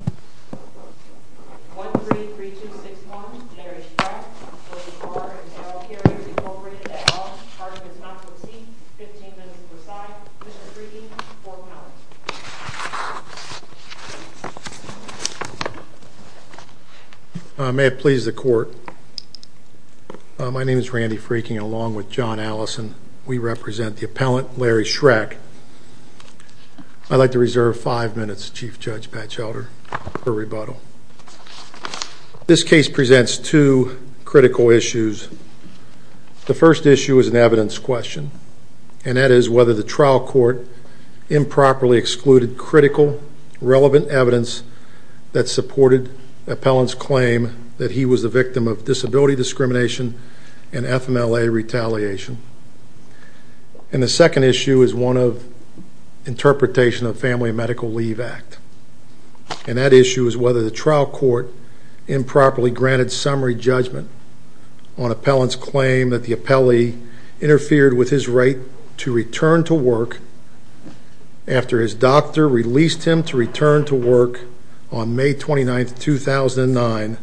1, 3, 3, 2, 6, 1, Larry Shreck, R and L Carriers, Inc. at all. Argument is not to be seen. 15 minutes to decide. Mr. Freaking, for appellant. May it please the court. My name is Randy Freaking, along with John Allison. We represent the appellant, Larry Shreck. I'd like to reserve five minutes, Chief Judge Patchelder, for rebuttal. This case presents two critical issues. The first issue is an evidence question, and that is whether the trial court improperly excluded critical, relevant evidence that supported the appellant's claim that he was the victim of disability discrimination and FMLA retaliation. And the second issue is one of interpretation of the Family and Medical Leave Act. And that issue is whether the trial court improperly granted summary judgment on appellant's claim that the appellee interfered with his right to return to work after his doctor released him to return to work on May 29, 2009.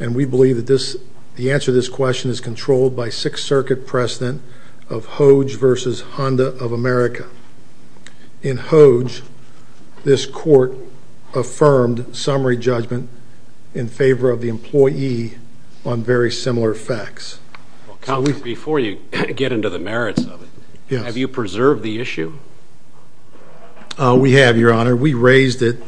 And we believe that the answer to this question is controlled by Sixth Circuit precedent of Hodge v. Honda of America. In Hodge, this court affirmed summary judgment in favor of the employee on very similar facts. Before you get into the merits of it, have you preserved the issue? We have, Your Honor. We raised it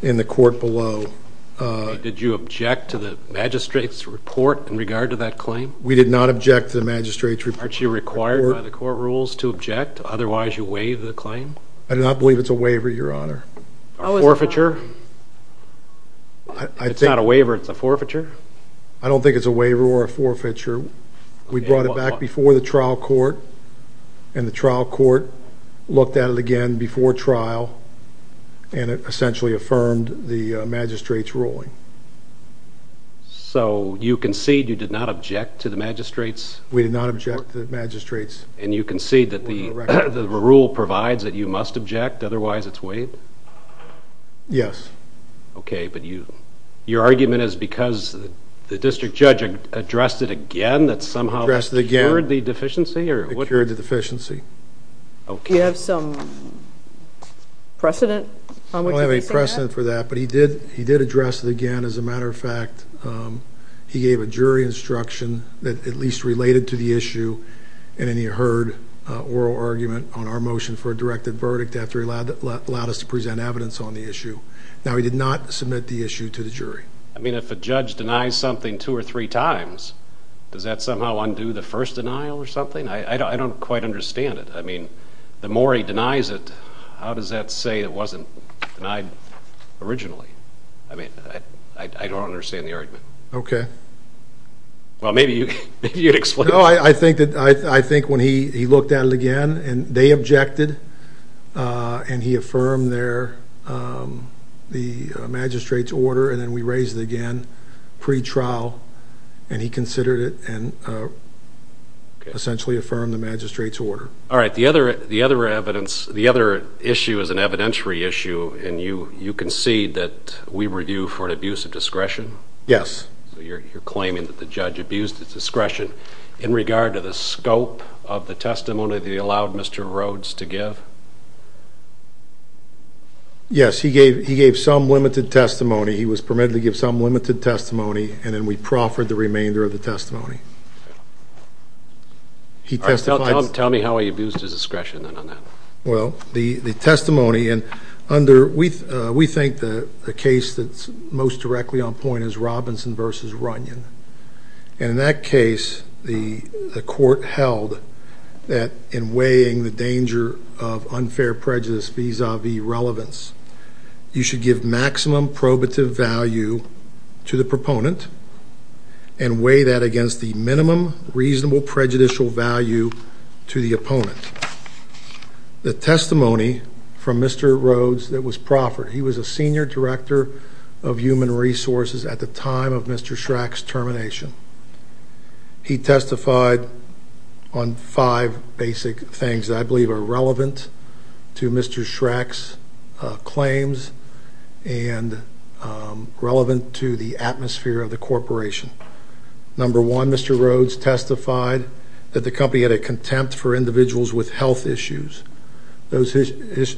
in the court below. Did you object to the magistrate's report in regard to that claim? We did not object to the magistrate's report. Aren't you required by the court rules to object? Otherwise, you waive the claim? I do not believe it's a waiver, Your Honor. A forfeiture? It's not a waiver. It's a forfeiture? I don't think it's a waiver or a forfeiture. We brought it back before the trial court, and the trial court looked at it again before trial, and it essentially affirmed the magistrate's ruling. So you concede you did not object to the magistrate's report? We did not object to the magistrate's report. And you concede that the rule provides that you must object? Otherwise, it's waived? Yes. Okay, but your argument is because the district judge addressed it again that somehow cured the deficiency? It cured the deficiency. Okay. Do you have some precedent on which he may say that? I don't have any precedent for that, but he did address it again. As a matter of fact, he gave a jury instruction that at least related to the issue, and then he heard oral argument on our motion for a directed verdict after he allowed us to present evidence on the issue. Now, he did not submit the issue to the jury. I mean, if a judge denies something two or three times, does that somehow undo the first denial or something? I don't quite understand it. I mean, the more he denies it, how does that say it wasn't denied originally? I mean, I don't understand the argument. Okay. Well, maybe you'd explain it. No, I think when he looked at it again and they objected and he affirmed the magistrate's order and then we raised it again pre-trial and he considered it and essentially affirmed the magistrate's order. All right. The other issue is an evidentiary issue, and you concede that we were due for an abuse of discretion? Yes. So you're claiming that the judge abused his discretion in regard to the scope of the testimony that he allowed Mr. Rhodes to give? Yes. He gave some limited testimony. He was permitted to give some limited testimony, and then we proffered the remainder of the testimony. Tell me how he abused his discretion on that. Well, the testimony, and we think the case that's most directly on point is Robinson v. Runyon, and in that case the court held that in weighing the danger of unfair prejudice vis-à-vis relevance, you should give maximum probative value to the proponent and weigh that against the minimum reasonable prejudicial value to the opponent. The testimony from Mr. Rhodes that was proffered, he was a senior director of human resources at the time of Mr. Schreck's termination. He testified on five basic things that I believe are relevant to Mr. Schreck's claims and relevant to the atmosphere of the corporation. Number one, Mr. Rhodes testified that the company had a contempt for individuals with health issues. Those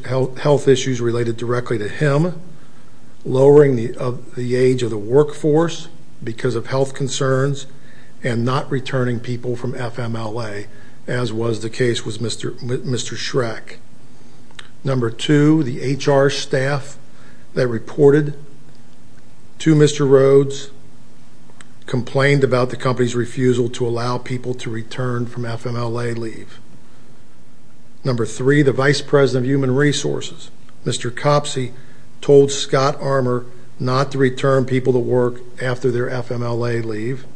health issues related directly to him, lowering the age of the workforce because of health concerns and not returning people from FMLA, as was the case with Mr. Schreck. Number two, the HR staff that reported to Mr. Rhodes complained about the company's refusal to allow people to return from FMLA leave. Number three, the vice president of human resources. Mr. Copsey told Scott Armour not to return people to work after their FMLA leave.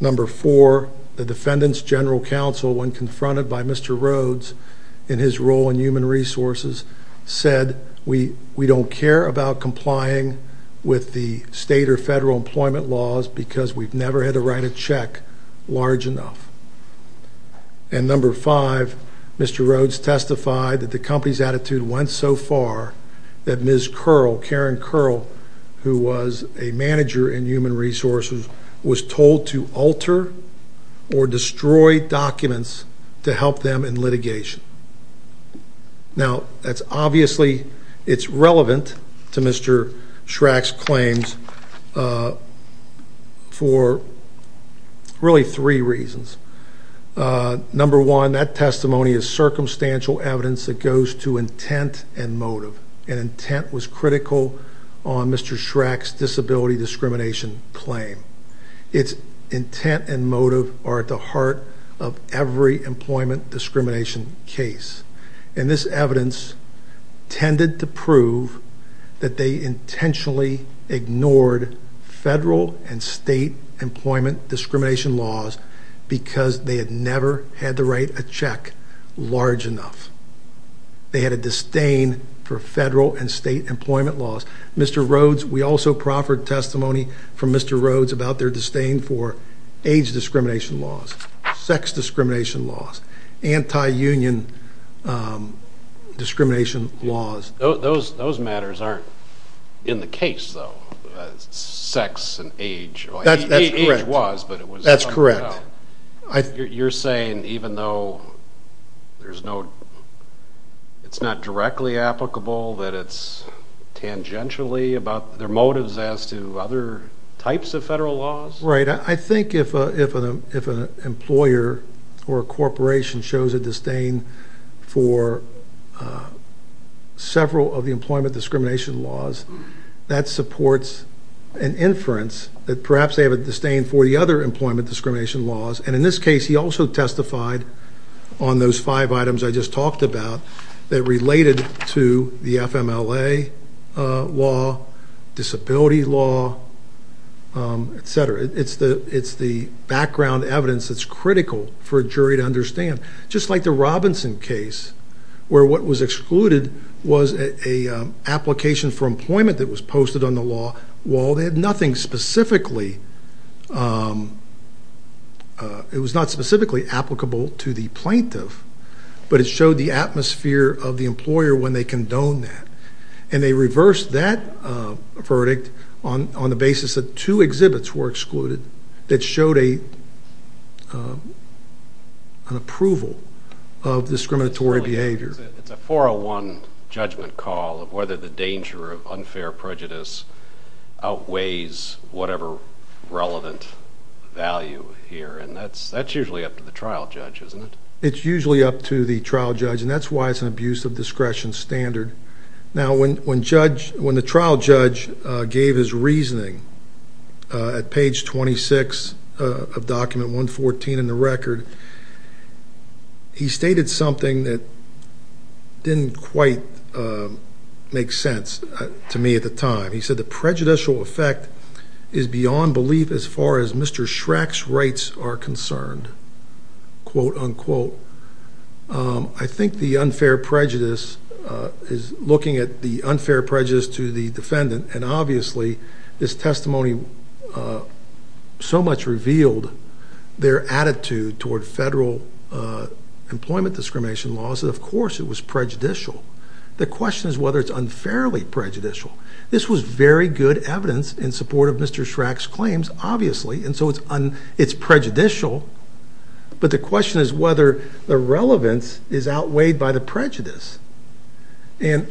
Number four, the defendant's general counsel, when confronted by Mr. Rhodes in his role in human resources, said we don't care about complying with the state or federal employment laws because we've never had to write a check large enough. And number five, Mr. Rhodes testified that the company's attitude went so far that Ms. Curl, Karen Curl, who was a manager in human resources, was told to alter or destroy documents to help them in litigation. Now, obviously it's relevant to Mr. Schreck's claims for really three reasons. Number one, that testimony is circumstantial evidence that goes to intent and motive, and intent was critical on Mr. Schreck's disability discrimination claim. Its intent and motive are at the heart of every employment discrimination case, and this evidence tended to prove that they intentionally ignored federal and state employment discrimination laws because they had never had to write a check large enough. They had a disdain for federal and state employment laws. Mr. Rhodes, we also proffered testimony from Mr. Rhodes about their disdain for age discrimination laws, sex discrimination laws, anti-union discrimination laws. Those matters aren't in the case, though, sex and age. That's correct. Age was, but it was something else. That's correct. You're saying, even though it's not directly applicable, that it's tangentially about their motives as to other types of federal laws? Right. I think if an employer or a corporation shows a disdain for several of the employment discrimination laws, that supports an inference that perhaps they have a disdain for the other employment discrimination laws, and in this case he also testified on those five items I just talked about that related to the FMLA law, disability law, et cetera. It's the background evidence that's critical for a jury to understand. Just like the Robinson case, where what was excluded was an application for employment that was posted on the law, while it was not specifically applicable to the plaintiff, but it showed the atmosphere of the employer when they condoned that. And they reversed that verdict on the basis that two exhibits were excluded that showed an approval of discriminatory behavior. It's a 401 judgment call of whether the danger of unfair prejudice outweighs whatever relevant value here, and that's usually up to the trial judge, isn't it? It's usually up to the trial judge, and that's why it's an abuse of discretion standard. Now, when the trial judge gave his reasoning at page 26 of document 114 in the record, he stated something that didn't quite make sense to me at the time. He said the prejudicial effect is beyond belief as far as Mr. Schreck's rights are concerned, quote, unquote. I think the unfair prejudice is looking at the unfair prejudice to the defendant, and obviously this testimony so much revealed their attitude toward federal employment discrimination laws, and of course it was prejudicial. The question is whether it's unfairly prejudicial. This was very good evidence in support of Mr. Schreck's claims, obviously, and so it's prejudicial, but the question is whether the relevance is outweighed by the prejudice, and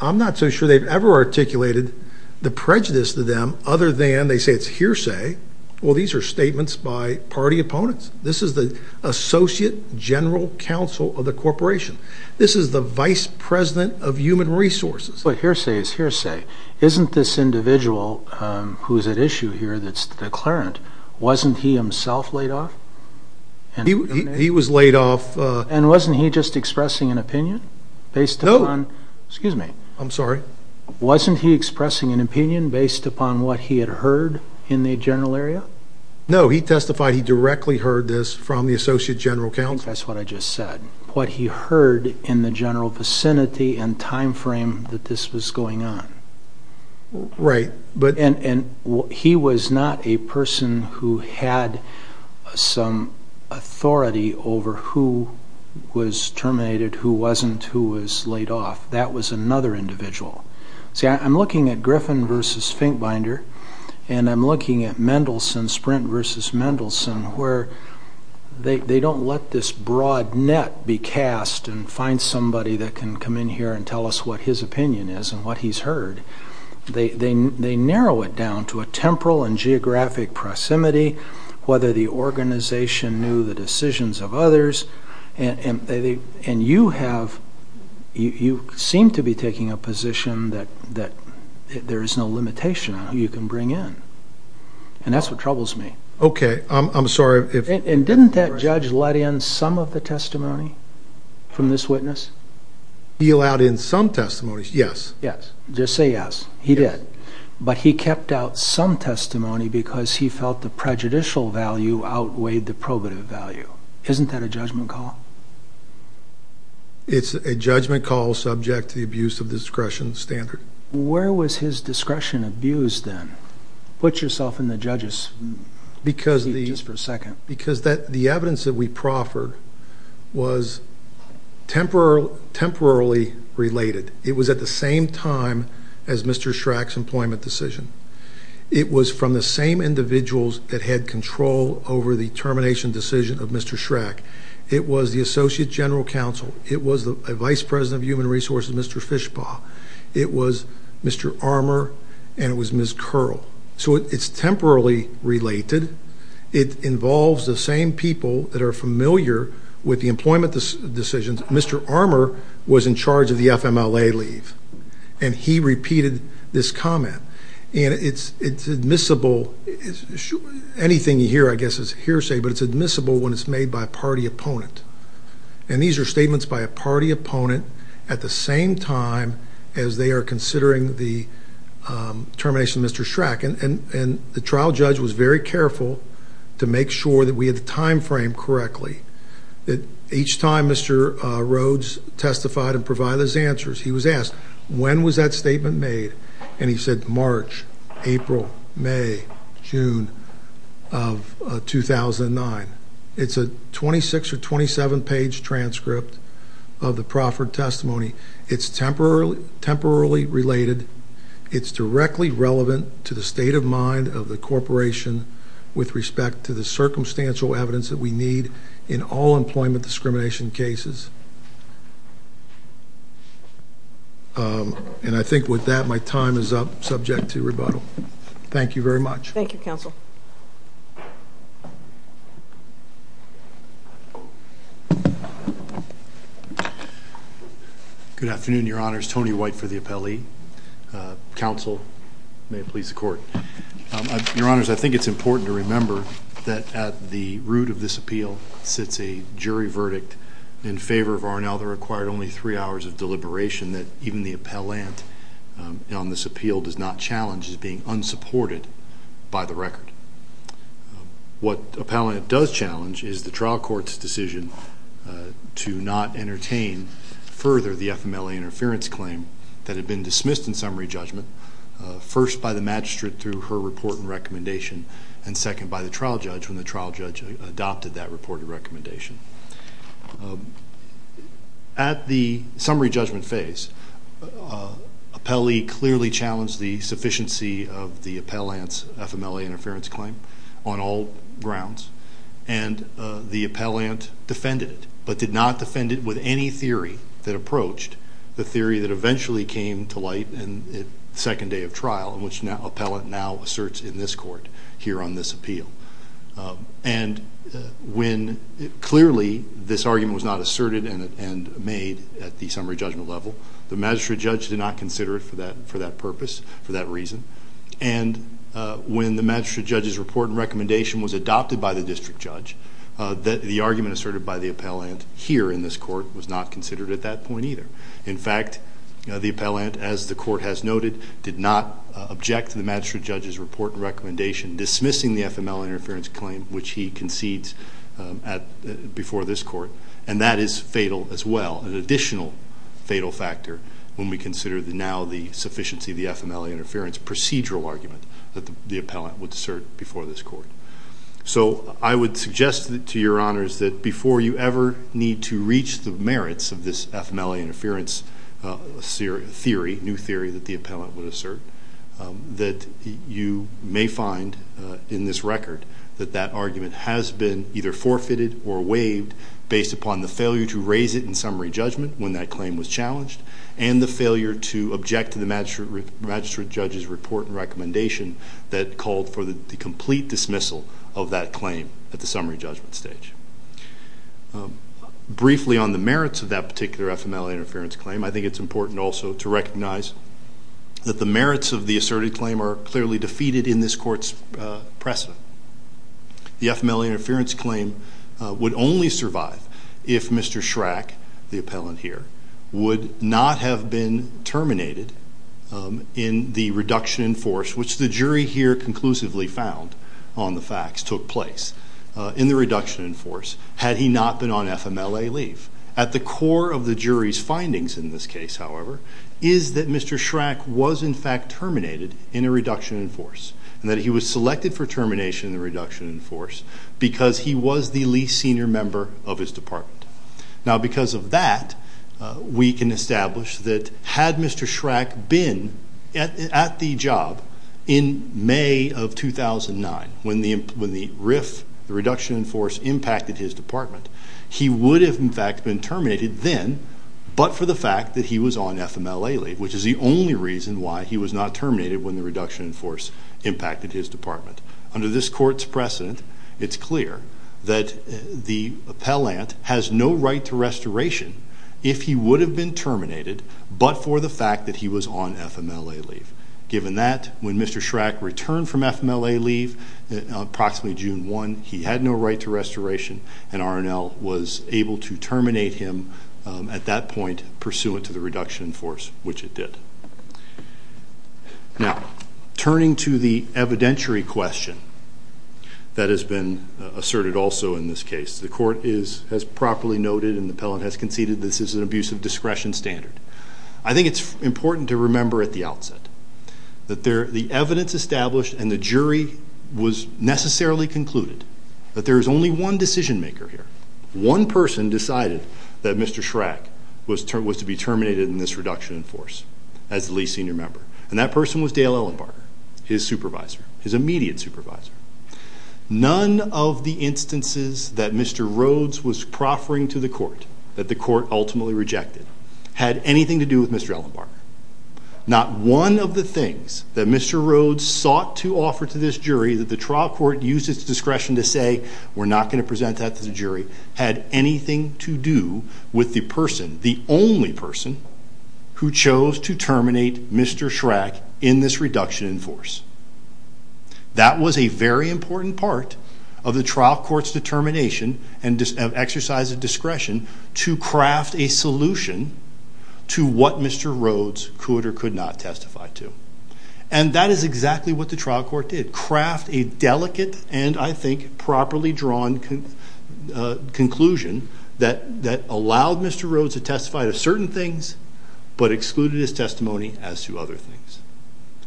I'm not so sure they've ever articulated the prejudice to them other than they say it's hearsay. Well, these are statements by party opponents. This is the associate general counsel of the corporation. This is the vice president of human resources. But hearsay is hearsay. Isn't this individual who is at issue here that's the declarant, wasn't he himself laid off? He was laid off. And wasn't he just expressing an opinion based upon? No. Excuse me. I'm sorry. Wasn't he expressing an opinion based upon what he had heard in the general area? No, he testified he directly heard this from the associate general counsel. I think that's what I just said. What he heard in the general vicinity and time frame that this was going on. Right. And he was not a person who had some authority over who was terminated, who wasn't, who was laid off. That was another individual. See, I'm looking at Griffin versus Finkbinder, and I'm looking at Mendelsohn, Sprint versus Mendelsohn, where they don't let this broad net be cast and find somebody that can come in here and tell us what his opinion is and what he's heard. They narrow it down to a temporal and geographic proximity, whether the organization knew the decisions of others. And you seem to be taking a position that there is no limitation on who you can bring in, and that's what troubles me. Okay. I'm sorry. And didn't that judge let in some of the testimony from this witness? He allowed in some testimonies, yes. Yes. Just say yes. He did. But he kept out some testimony because he felt the prejudicial value outweighed the probative value. Isn't that a judgment call? It's a judgment call subject to the abuse of discretion standard. Where was his discretion abused then? Put yourself in the judge's shoes for a second. Because the evidence that we proffered was temporarily related. It was at the same time as Mr. Schreck's employment decision. It was from the same individuals that had control over the termination decision of Mr. Schreck. It was the Associate General Counsel. It was the Vice President of Human Resources, Mr. Fishbaugh. It was Mr. Armour, and it was Ms. Curl. So it's temporarily related. It involves the same people that are familiar with the employment decisions. Mr. Armour was in charge of the FMLA leave, and he repeated this comment. And it's admissible. Anything you hear, I guess, is hearsay, but it's admissible when it's made by a party opponent. And these are statements by a party opponent at the same time as they are considering the termination of Mr. Schreck. And the trial judge was very careful to make sure that we had the time frame correctly. That each time Mr. Rhodes testified and provided his answers, he was asked, when was that statement made? And he said, March, April, May, June of 2009. It's a 26- or 27-page transcript of the proffered testimony. It's temporarily related. It's directly relevant to the state of mind of the corporation with respect to the circumstantial evidence that we need in all employment discrimination cases. And I think with that, my time is up, subject to rebuttal. Thank you very much. Thank you, counsel. Good afternoon, Your Honors. Tony White for the appellee. Counsel, may it please the Court. Your Honors, I think it's important to remember that at the root of this appeal sits a jury verdict in favor of Arnell that required only three hours of deliberation, that even the appellant on this appeal does not challenge as being unsupported by the record. What the appellant does challenge is the trial court's decision to not entertain further the FMLA interference claim that had been dismissed in summary judgment, first by the magistrate through her report and recommendation, and second by the trial judge when the trial judge adopted that reported recommendation. At the summary judgment phase, appellee clearly challenged the sufficiency of the appellant's FMLA interference claim on all grounds, and the appellant defended it but did not defend it with any theory that approached the theory that eventually came to light in the second day of trial, which the appellant now asserts in this court here on this appeal. And when clearly this argument was not asserted and made at the summary judgment level, the magistrate judge did not consider it for that purpose, for that reason, and when the magistrate judge's report and recommendation was adopted by the district judge, the argument asserted by the appellant here in this court was not considered at that point either. In fact, the appellant, as the court has noted, did not object to the magistrate judge's report and recommendation dismissing the FMLA interference claim which he concedes before this court, and that is fatal as well, an additional fatal factor when we consider now the sufficiency of the FMLA interference procedural argument that the appellant would assert before this court. So I would suggest to your honors that before you ever need to reach the merits of this FMLA interference theory, new theory that the appellant would assert, that you may find in this record that that argument has been either forfeited or waived based upon the failure to raise it in summary judgment when that claim was challenged and the failure to object to the magistrate judge's report and recommendation that called for the complete dismissal of that claim at the summary judgment stage. Briefly on the merits of that particular FMLA interference claim, I think it's important also to recognize that the merits of the asserted claim are clearly defeated in this court's precedent. The FMLA interference claim would only survive if Mr. Schrack, the appellant here, would not have been terminated in the reduction in force, which the jury here conclusively found on the facts, took place in the reduction in force had he not been on FMLA leave. At the core of the jury's findings in this case, however, is that Mr. Schrack was in fact terminated in a reduction in force and that he was selected for termination in the reduction in force because he was the least senior member of his department. Now because of that, we can establish that had Mr. Schrack been at the job in May of 2009, when the reduction in force impacted his department, he would have in fact been terminated then but for the fact that he was on FMLA leave, which is the only reason why he was not terminated when the reduction in force impacted his department. Under this court's precedent, it's clear that the appellant has no right to restoration if he would have been terminated but for the fact that he was on FMLA leave. Given that, when Mr. Schrack returned from FMLA leave approximately June 1, he had no right to restoration and R&L was able to terminate him at that point pursuant to the reduction in force, which it did. Now turning to the evidentiary question that has been asserted also in this case, the court has properly noted and the appellant has conceded this is an abuse of discretion standard. I think it's important to remember at the outset that the evidence established and the jury was necessarily concluded that there is only one decision maker here. One person decided that Mr. Schrack was to be terminated in this reduction in force as the least senior member and that person was Dale Ellenbarger, his supervisor, his immediate supervisor. None of the instances that Mr. Rhodes was proffering to the court that the court ultimately rejected had anything to do with Mr. Ellenbarger. Not one of the things that Mr. Rhodes sought to offer to this jury that the trial court used its discretion to say we're not going to present that to the jury had anything to do with the person, the only person, who chose to terminate Mr. Schrack in this reduction in force. That was a very important part of the trial court's determination and exercise of discretion to craft a solution to what Mr. Rhodes could or could not testify to. And that is exactly what the trial court did. Craft a delicate and I think properly drawn conclusion that allowed Mr. Rhodes to testify to certain things but excluded his testimony as to other things.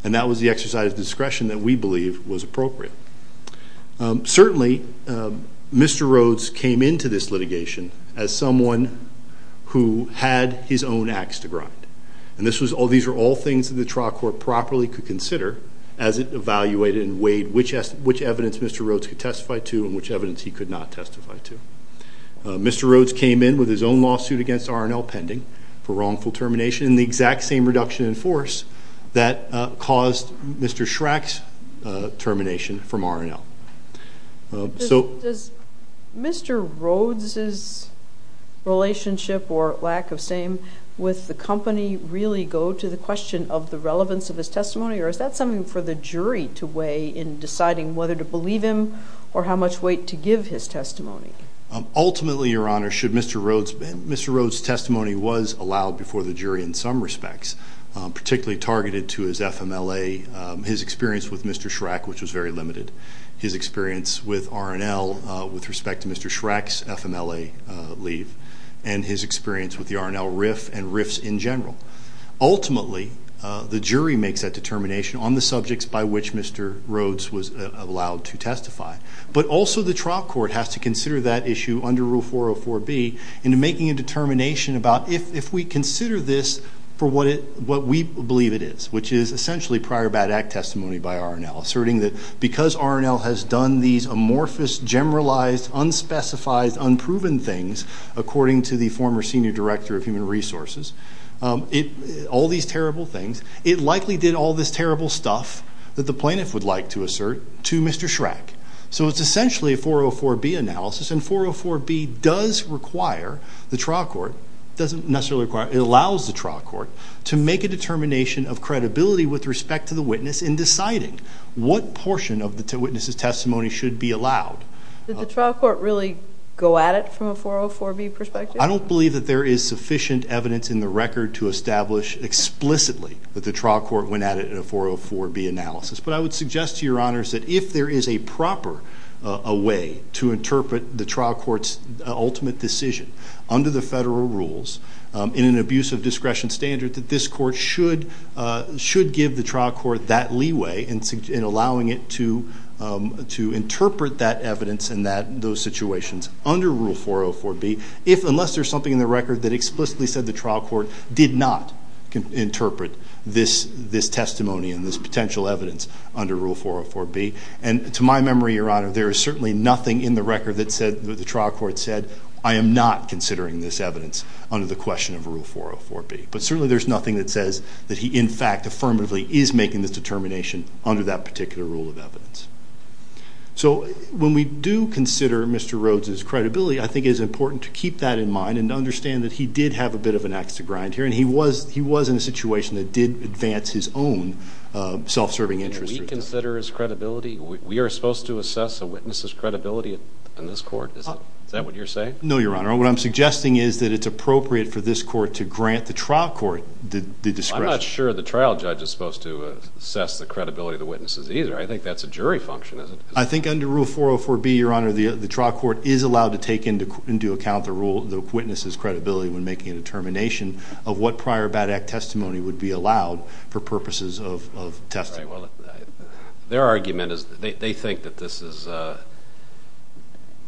And that was the exercise of discretion that we believe was appropriate. Certainly, Mr. Rhodes came into this litigation as someone who had his own ax to grind. And these were all things that the trial court properly could consider as it evaluated and weighed which evidence Mr. Rhodes could testify to and which evidence he could not testify to. Mr. Rhodes came in with his own lawsuit against R&L pending for wrongful termination in the exact same reduction in force that caused Mr. Schrack's termination from R&L. Does Mr. Rhodes' relationship or lack of same with the company really go to the question of the relevance of his testimony, or is that something for the jury to weigh in deciding whether to believe him or how much weight to give his testimony? Ultimately, Your Honor, Mr. Rhodes' testimony was allowed before the jury in some respects, particularly targeted to his FMLA, his experience with Mr. Schrack, which was very limited, his experience with R&L with respect to Mr. Schrack's FMLA leave, and his experience with the R&L RIF and RIFs in general. Ultimately, the jury makes that determination on the subjects by which Mr. Rhodes was allowed to testify. But also the trial court has to consider that issue under Rule 404B into making a determination about if we consider this for what we believe it is, which is essentially prior bad act testimony by R&L, asserting that because R&L has done these amorphous, generalized, unspecified, unproven things, according to the former senior director of human resources, all these terrible things, it likely did all this terrible stuff that the plaintiff would like to assert to Mr. Schrack. So it's essentially a 404B analysis, and 404B does require the trial court, doesn't necessarily require, it allows the trial court to make a determination of credibility with respect to the witness in deciding what portion of the witness's testimony should be allowed. Did the trial court really go at it from a 404B perspective? I don't believe that there is sufficient evidence in the record to establish explicitly that the trial court went at it in a 404B analysis. But I would suggest to your honors that if there is a proper way to interpret the trial court's ultimate decision, under the federal rules, in an abuse of discretion standard, that this court should give the trial court that leeway in allowing it to interpret that evidence and those situations under Rule 404B, unless there's something in the record that explicitly said the trial court did not interpret this testimony and this potential evidence under Rule 404B. And to my memory, your honor, there is certainly nothing in the record that the trial court said, I am not considering this evidence under the question of Rule 404B. But certainly there's nothing that says that he in fact affirmatively is making this determination under that particular rule of evidence. So when we do consider Mr. Rhodes' credibility, I think it is important to keep that in mind and to understand that he did have a bit of an axe to grind here, and he was in a situation that did advance his own self-serving interests. Did we consider his credibility? We are supposed to assess a witness's credibility in this court? Is that what you're saying? No, your honor. What I'm suggesting is that it's appropriate for this court to grant the trial court the discretion. I'm not sure the trial judge is supposed to assess the credibility of the witnesses either. I think that's a jury function, isn't it? I think under Rule 404B, your honor, the trial court is allowed to take into account the witness's credibility when making a determination of what prior bad act testimony would be allowed for purposes of testimony. Their argument is they think that this is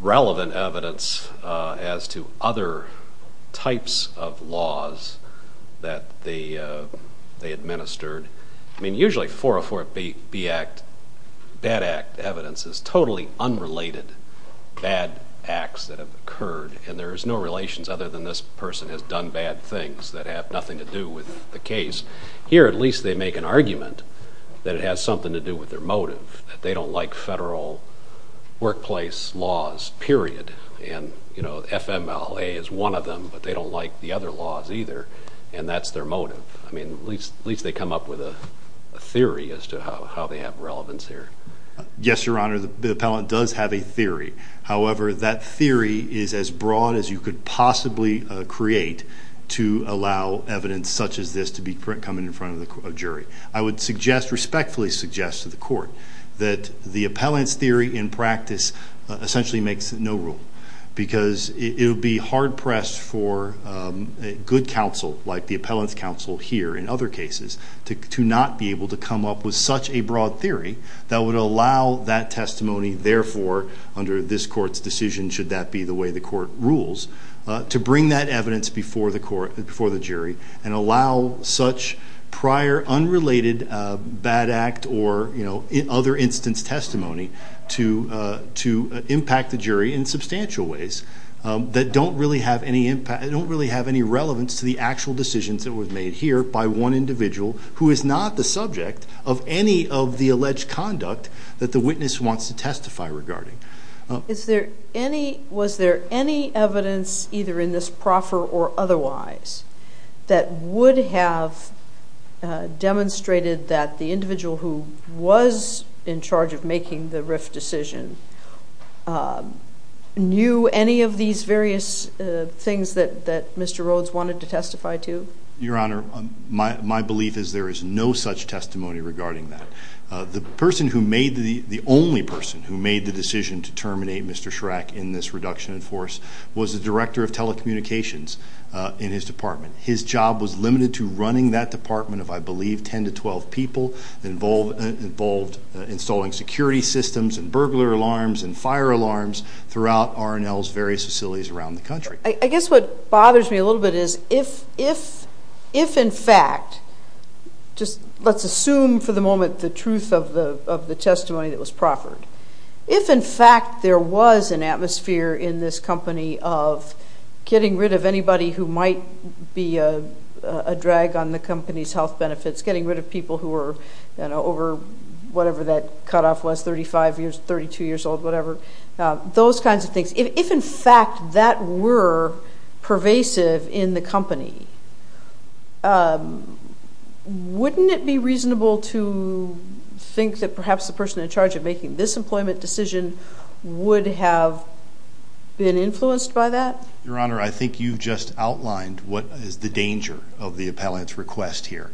relevant evidence as to other types of laws that they administered. I mean, usually 404B bad act evidence is totally unrelated bad acts that have occurred, and there is no relations other than this person has done bad things that have nothing to do with the case. Here, at least they make an argument that it has something to do with their motive, that they don't like federal workplace laws, period. And, you know, FMLA is one of them, but they don't like the other laws either, and that's their motive. I mean, at least they come up with a theory as to how they have relevance here. Yes, your honor, the appellant does have a theory. However, that theory is as broad as you could possibly create to allow evidence such as this to be coming in front of a jury. I would suggest, respectfully suggest to the court, that the appellant's theory in practice essentially makes no rule because it would be hard pressed for a good counsel, like the appellant's counsel here in other cases, to not be able to come up with such a broad theory that would allow that testimony, therefore, under this court's decision, should that be the way the court rules, to bring that evidence before the jury and allow such prior unrelated bad act or, you know, other instance testimony to impact the jury in substantial ways that don't really have any impact, that don't really have any relevance to the actual decisions that were made here by one individual who is not the subject of any of the alleged conduct that the witness wants to testify regarding. Was there any evidence, either in this proffer or otherwise, that would have demonstrated that the individual who was in charge of making the RIF decision knew any of these various things that Mr. Rhodes wanted to testify to? Your Honor, my belief is there is no such testimony regarding that. The person who made the, the only person who made the decision to terminate Mr. Schreck in this reduction in force was the director of telecommunications in his department. His job was limited to running that department of, I believe, 10 to 12 people, involved installing security systems and burglar alarms and fire alarms throughout R&L's various facilities around the country. I guess what bothers me a little bit is if, if, if in fact, just let's assume for the moment the truth of the testimony that was proffered, if in fact there was an atmosphere in this company of getting rid of anybody who might be a, a drag on the company's health benefits, getting rid of people who were, you know, over whatever that cutoff was, 35 years, 32 years old, whatever, those kinds of things, if, if in fact that were pervasive in the company, wouldn't it be reasonable to think that perhaps the person in charge of making this employment decision would have been influenced by that? Your Honor, I think you've just outlined what is the danger of the appellant's request here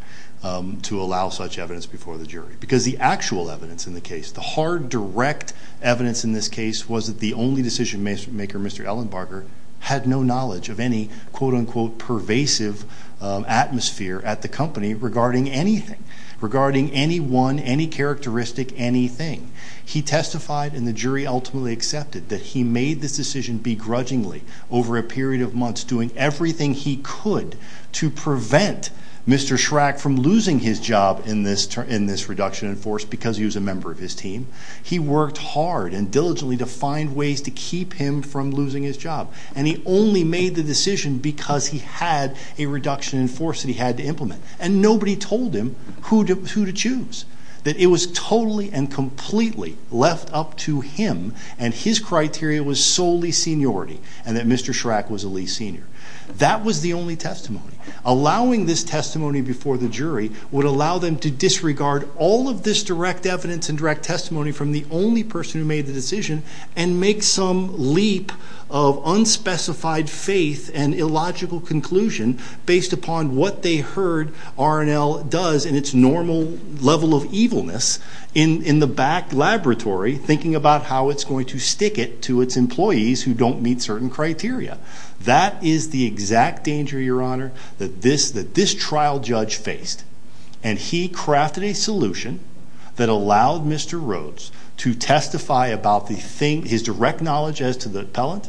to allow such evidence before the jury, because the actual evidence in the case, the hard direct evidence in this case was that the only decision maker, Mr. Ellenbarger, had no knowledge of any quote-unquote pervasive atmosphere at the company regarding anything, regarding anyone, any characteristic, anything. He testified and the jury ultimately accepted that he made this decision begrudgingly over a period of months doing everything he could to prevent Mr. Schrack from losing his job in this reduction in force because he was a member of his team. He worked hard and diligently to find ways to keep him from losing his job. And he only made the decision because he had a reduction in force that he had to implement. And nobody told him who to choose. That it was totally and completely left up to him and his criteria was solely seniority and that Mr. Schrack was the least senior. That was the only testimony. Allowing this testimony before the jury would allow them to disregard all of this direct evidence and direct testimony from the only person who made the decision and make some leap of unspecified faith and illogical conclusion based upon what they heard R&L does in its normal level of evilness in the back laboratory thinking about how it's going to stick it to its employees who don't meet certain criteria. That is the exact danger, Your Honor, that this trial judge faced. And he crafted a solution that allowed Mr. Rhodes to testify about his direct knowledge as to the appellant,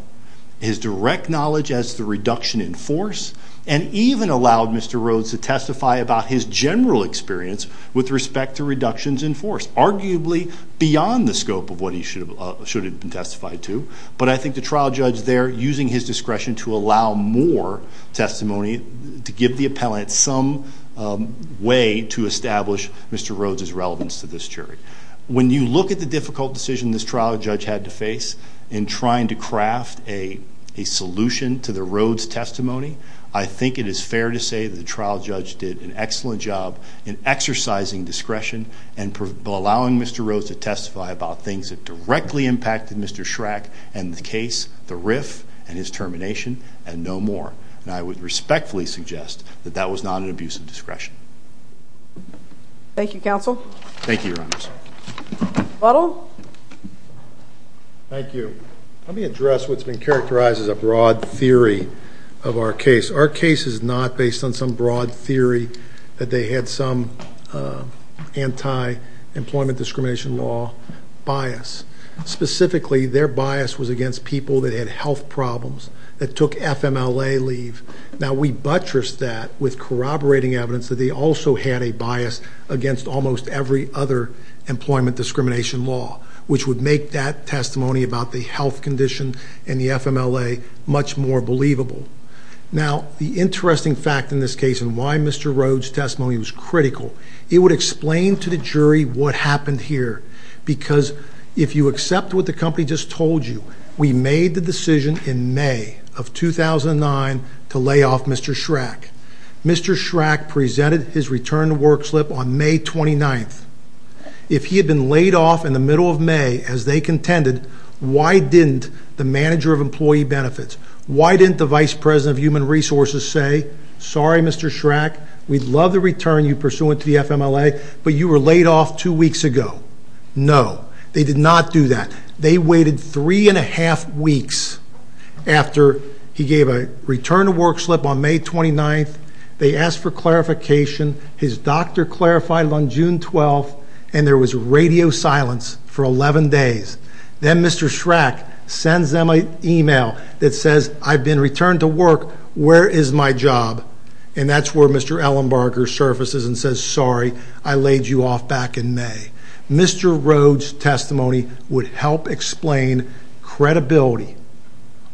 his direct knowledge as to the reduction in force, and even allowed Mr. Rhodes to testify about his general experience with respect to reductions in force, arguably beyond the scope of what he should have been testified to. But I think the trial judge there, using his discretion to allow more testimony to give the appellant some way to establish Mr. Rhodes' relevance to this jury. When you look at the difficult decision this trial judge had to face in trying to craft a solution to the Rhodes testimony, I think it is fair to say that the trial judge did an excellent job in exercising discretion and allowing Mr. Rhodes to testify about things that directly impacted Mr. Schrack and the case, the riff, and his termination, and no more. And I would respectfully suggest that that was not an abuse of discretion. Thank you, Counsel. Thank you, Your Honor. Butler. Thank you. Let me address what's been characterized as a broad theory of our case. Our case is not based on some broad theory that they had some anti-employment discrimination law bias. Specifically, their bias was against people that had health problems, that took FMLA leave. Now, we buttressed that with corroborating evidence that they also had a bias against almost every other employment discrimination law, which would make that testimony about the health condition and the FMLA much more believable. Now, the interesting fact in this case and why Mr. Rhodes' testimony was critical, it would explain to the jury what happened here. Because if you accept what the company just told you, we made the decision in May of 2009 to lay off Mr. Schrack. Mr. Schrack presented his return to work slip on May 29th. If he had been laid off in the middle of May, as they contended, why didn't the manager of employee benefits, why didn't the vice president of human resources say, sorry, Mr. Schrack, we'd love to return you pursuant to the FMLA, but you were laid off two weeks ago? No, they did not do that. They waited three and a half weeks after he gave a return to work slip on May 29th. They asked for clarification. His doctor clarified it on June 12th, and there was radio silence for 11 days. Then Mr. Schrack sends them an email that says, I've been returned to work. Where is my job? And that's where Mr. Ellenbarger surfaces and says, sorry, I laid you off back in May. Mr. Rhodes' testimony would help explain credibility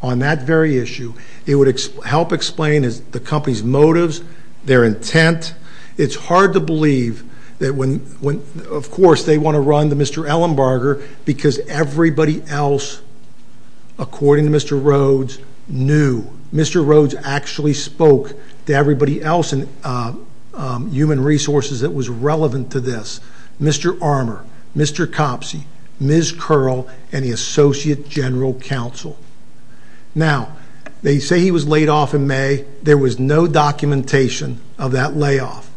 on that very issue. It would help explain the company's motives, their intent. It's hard to believe that when, of course, they want to run to Mr. Ellenbarger, because everybody else, according to Mr. Rhodes, knew. Mr. Rhodes actually spoke to everybody else in human resources that was relevant to this. Mr. Armour, Mr. Copsey, Ms. Curl, and the associate general counsel. Now, they say he was laid off in May. There was no documentation of that layoff.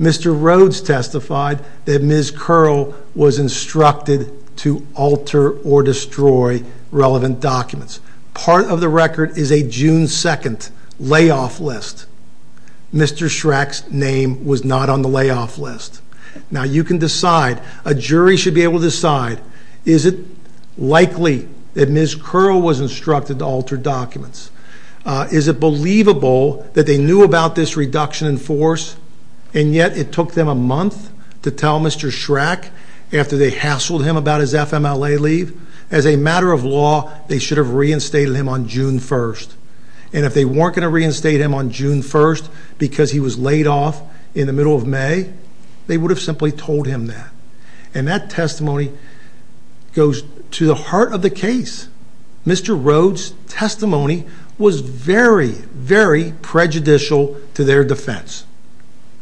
Mr. Rhodes testified that Ms. Curl was instructed to alter or destroy relevant documents. Part of the record is a June 2nd layoff list. Mr. Schrack's name was not on the layoff list. Now, you can decide, a jury should be able to decide, is it likely that Ms. Curl was instructed to alter documents? Is it believable that they knew about this reduction in force, and yet it took them a month to tell Mr. Schrack after they hassled him about his FMLA leave? As a matter of law, they should have reinstated him on June 1st. And if they weren't going to reinstate him on June 1st because he was laid off in the middle of May, they would have simply told him that. And that testimony goes to the heart of the case. Mr. Rhodes' testimony was very, very prejudicial to their defense.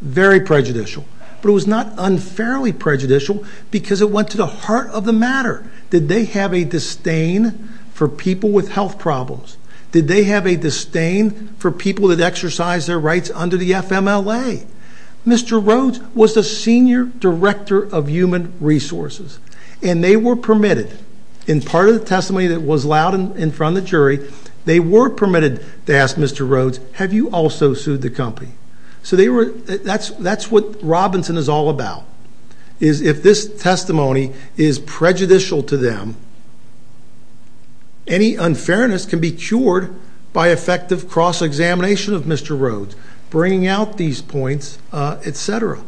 Very prejudicial. But it was not unfairly prejudicial because it went to the heart of the matter. Did they have a disdain for people with health problems? Did they have a disdain for people that exercise their rights under the FMLA? Mr. Rhodes was the Senior Director of Human Resources, and they were permitted, in part of the testimony that was allowed in front of the jury, they were permitted to ask Mr. Rhodes, have you also sued the company? So that's what Robinson is all about, is if this testimony is prejudicial to them, any unfairness can be cured by effective cross-examination of Mr. Rhodes, bringing out these points, et cetera.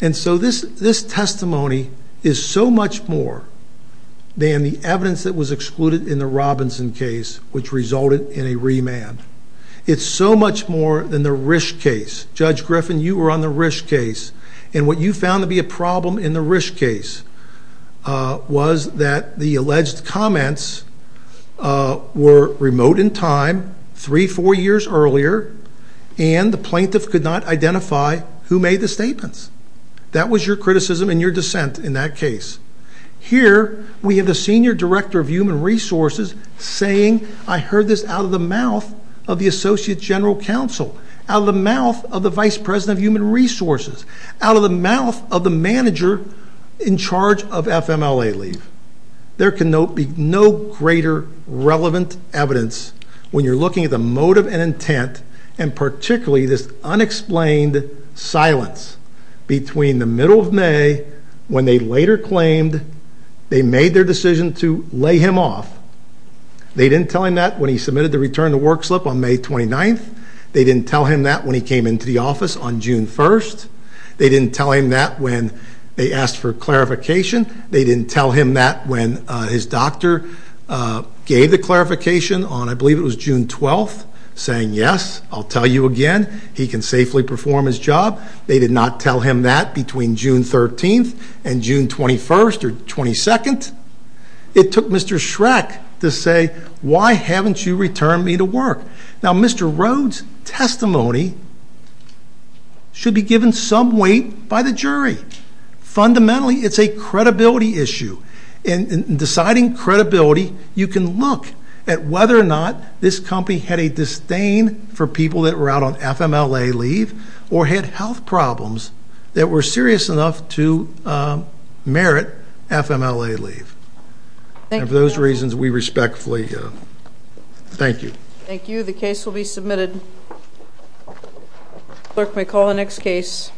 And so this testimony is so much more than the evidence that was excluded in the Robinson case, which resulted in a remand. It's so much more than the Risch case. Judge Griffin, you were on the Risch case, and what you found to be a problem in the Risch case was that the alleged comments were remote in time, three, four years earlier, and the plaintiff could not identify who made the statements. That was your criticism and your dissent in that case. Here we have the Senior Director of Human Resources saying, I heard this out of the mouth of the Associate General Counsel, out of the mouth of the Vice President of Human Resources, out of the mouth of the manager in charge of FMLA leave. There can be no greater relevant evidence when you're looking at the motive and intent, and particularly this unexplained silence between the middle of May, when they later claimed they made their decision to lay him off. They didn't tell him that when he submitted the return-to-work slip on May 29th. They didn't tell him that when he came into the office on June 1st. They didn't tell him that when they asked for clarification. They didn't tell him that when his doctor gave the clarification on, I believe it was June 12th, saying, yes, I'll tell you again, he can safely perform his job. They did not tell him that between June 13th and June 21st or 22nd. It took Mr. Schreck to say, why haven't you returned me to work? Now, Mr. Rhodes' testimony should be given some weight by the jury. Fundamentally, it's a credibility issue. In deciding credibility, you can look at whether or not this company had a disdain for people that were out on FMLA leave or had health problems that were serious enough to merit FMLA leave. And for those reasons, we respectfully thank you. Thank you. The case will be submitted. Clerk may call the next case.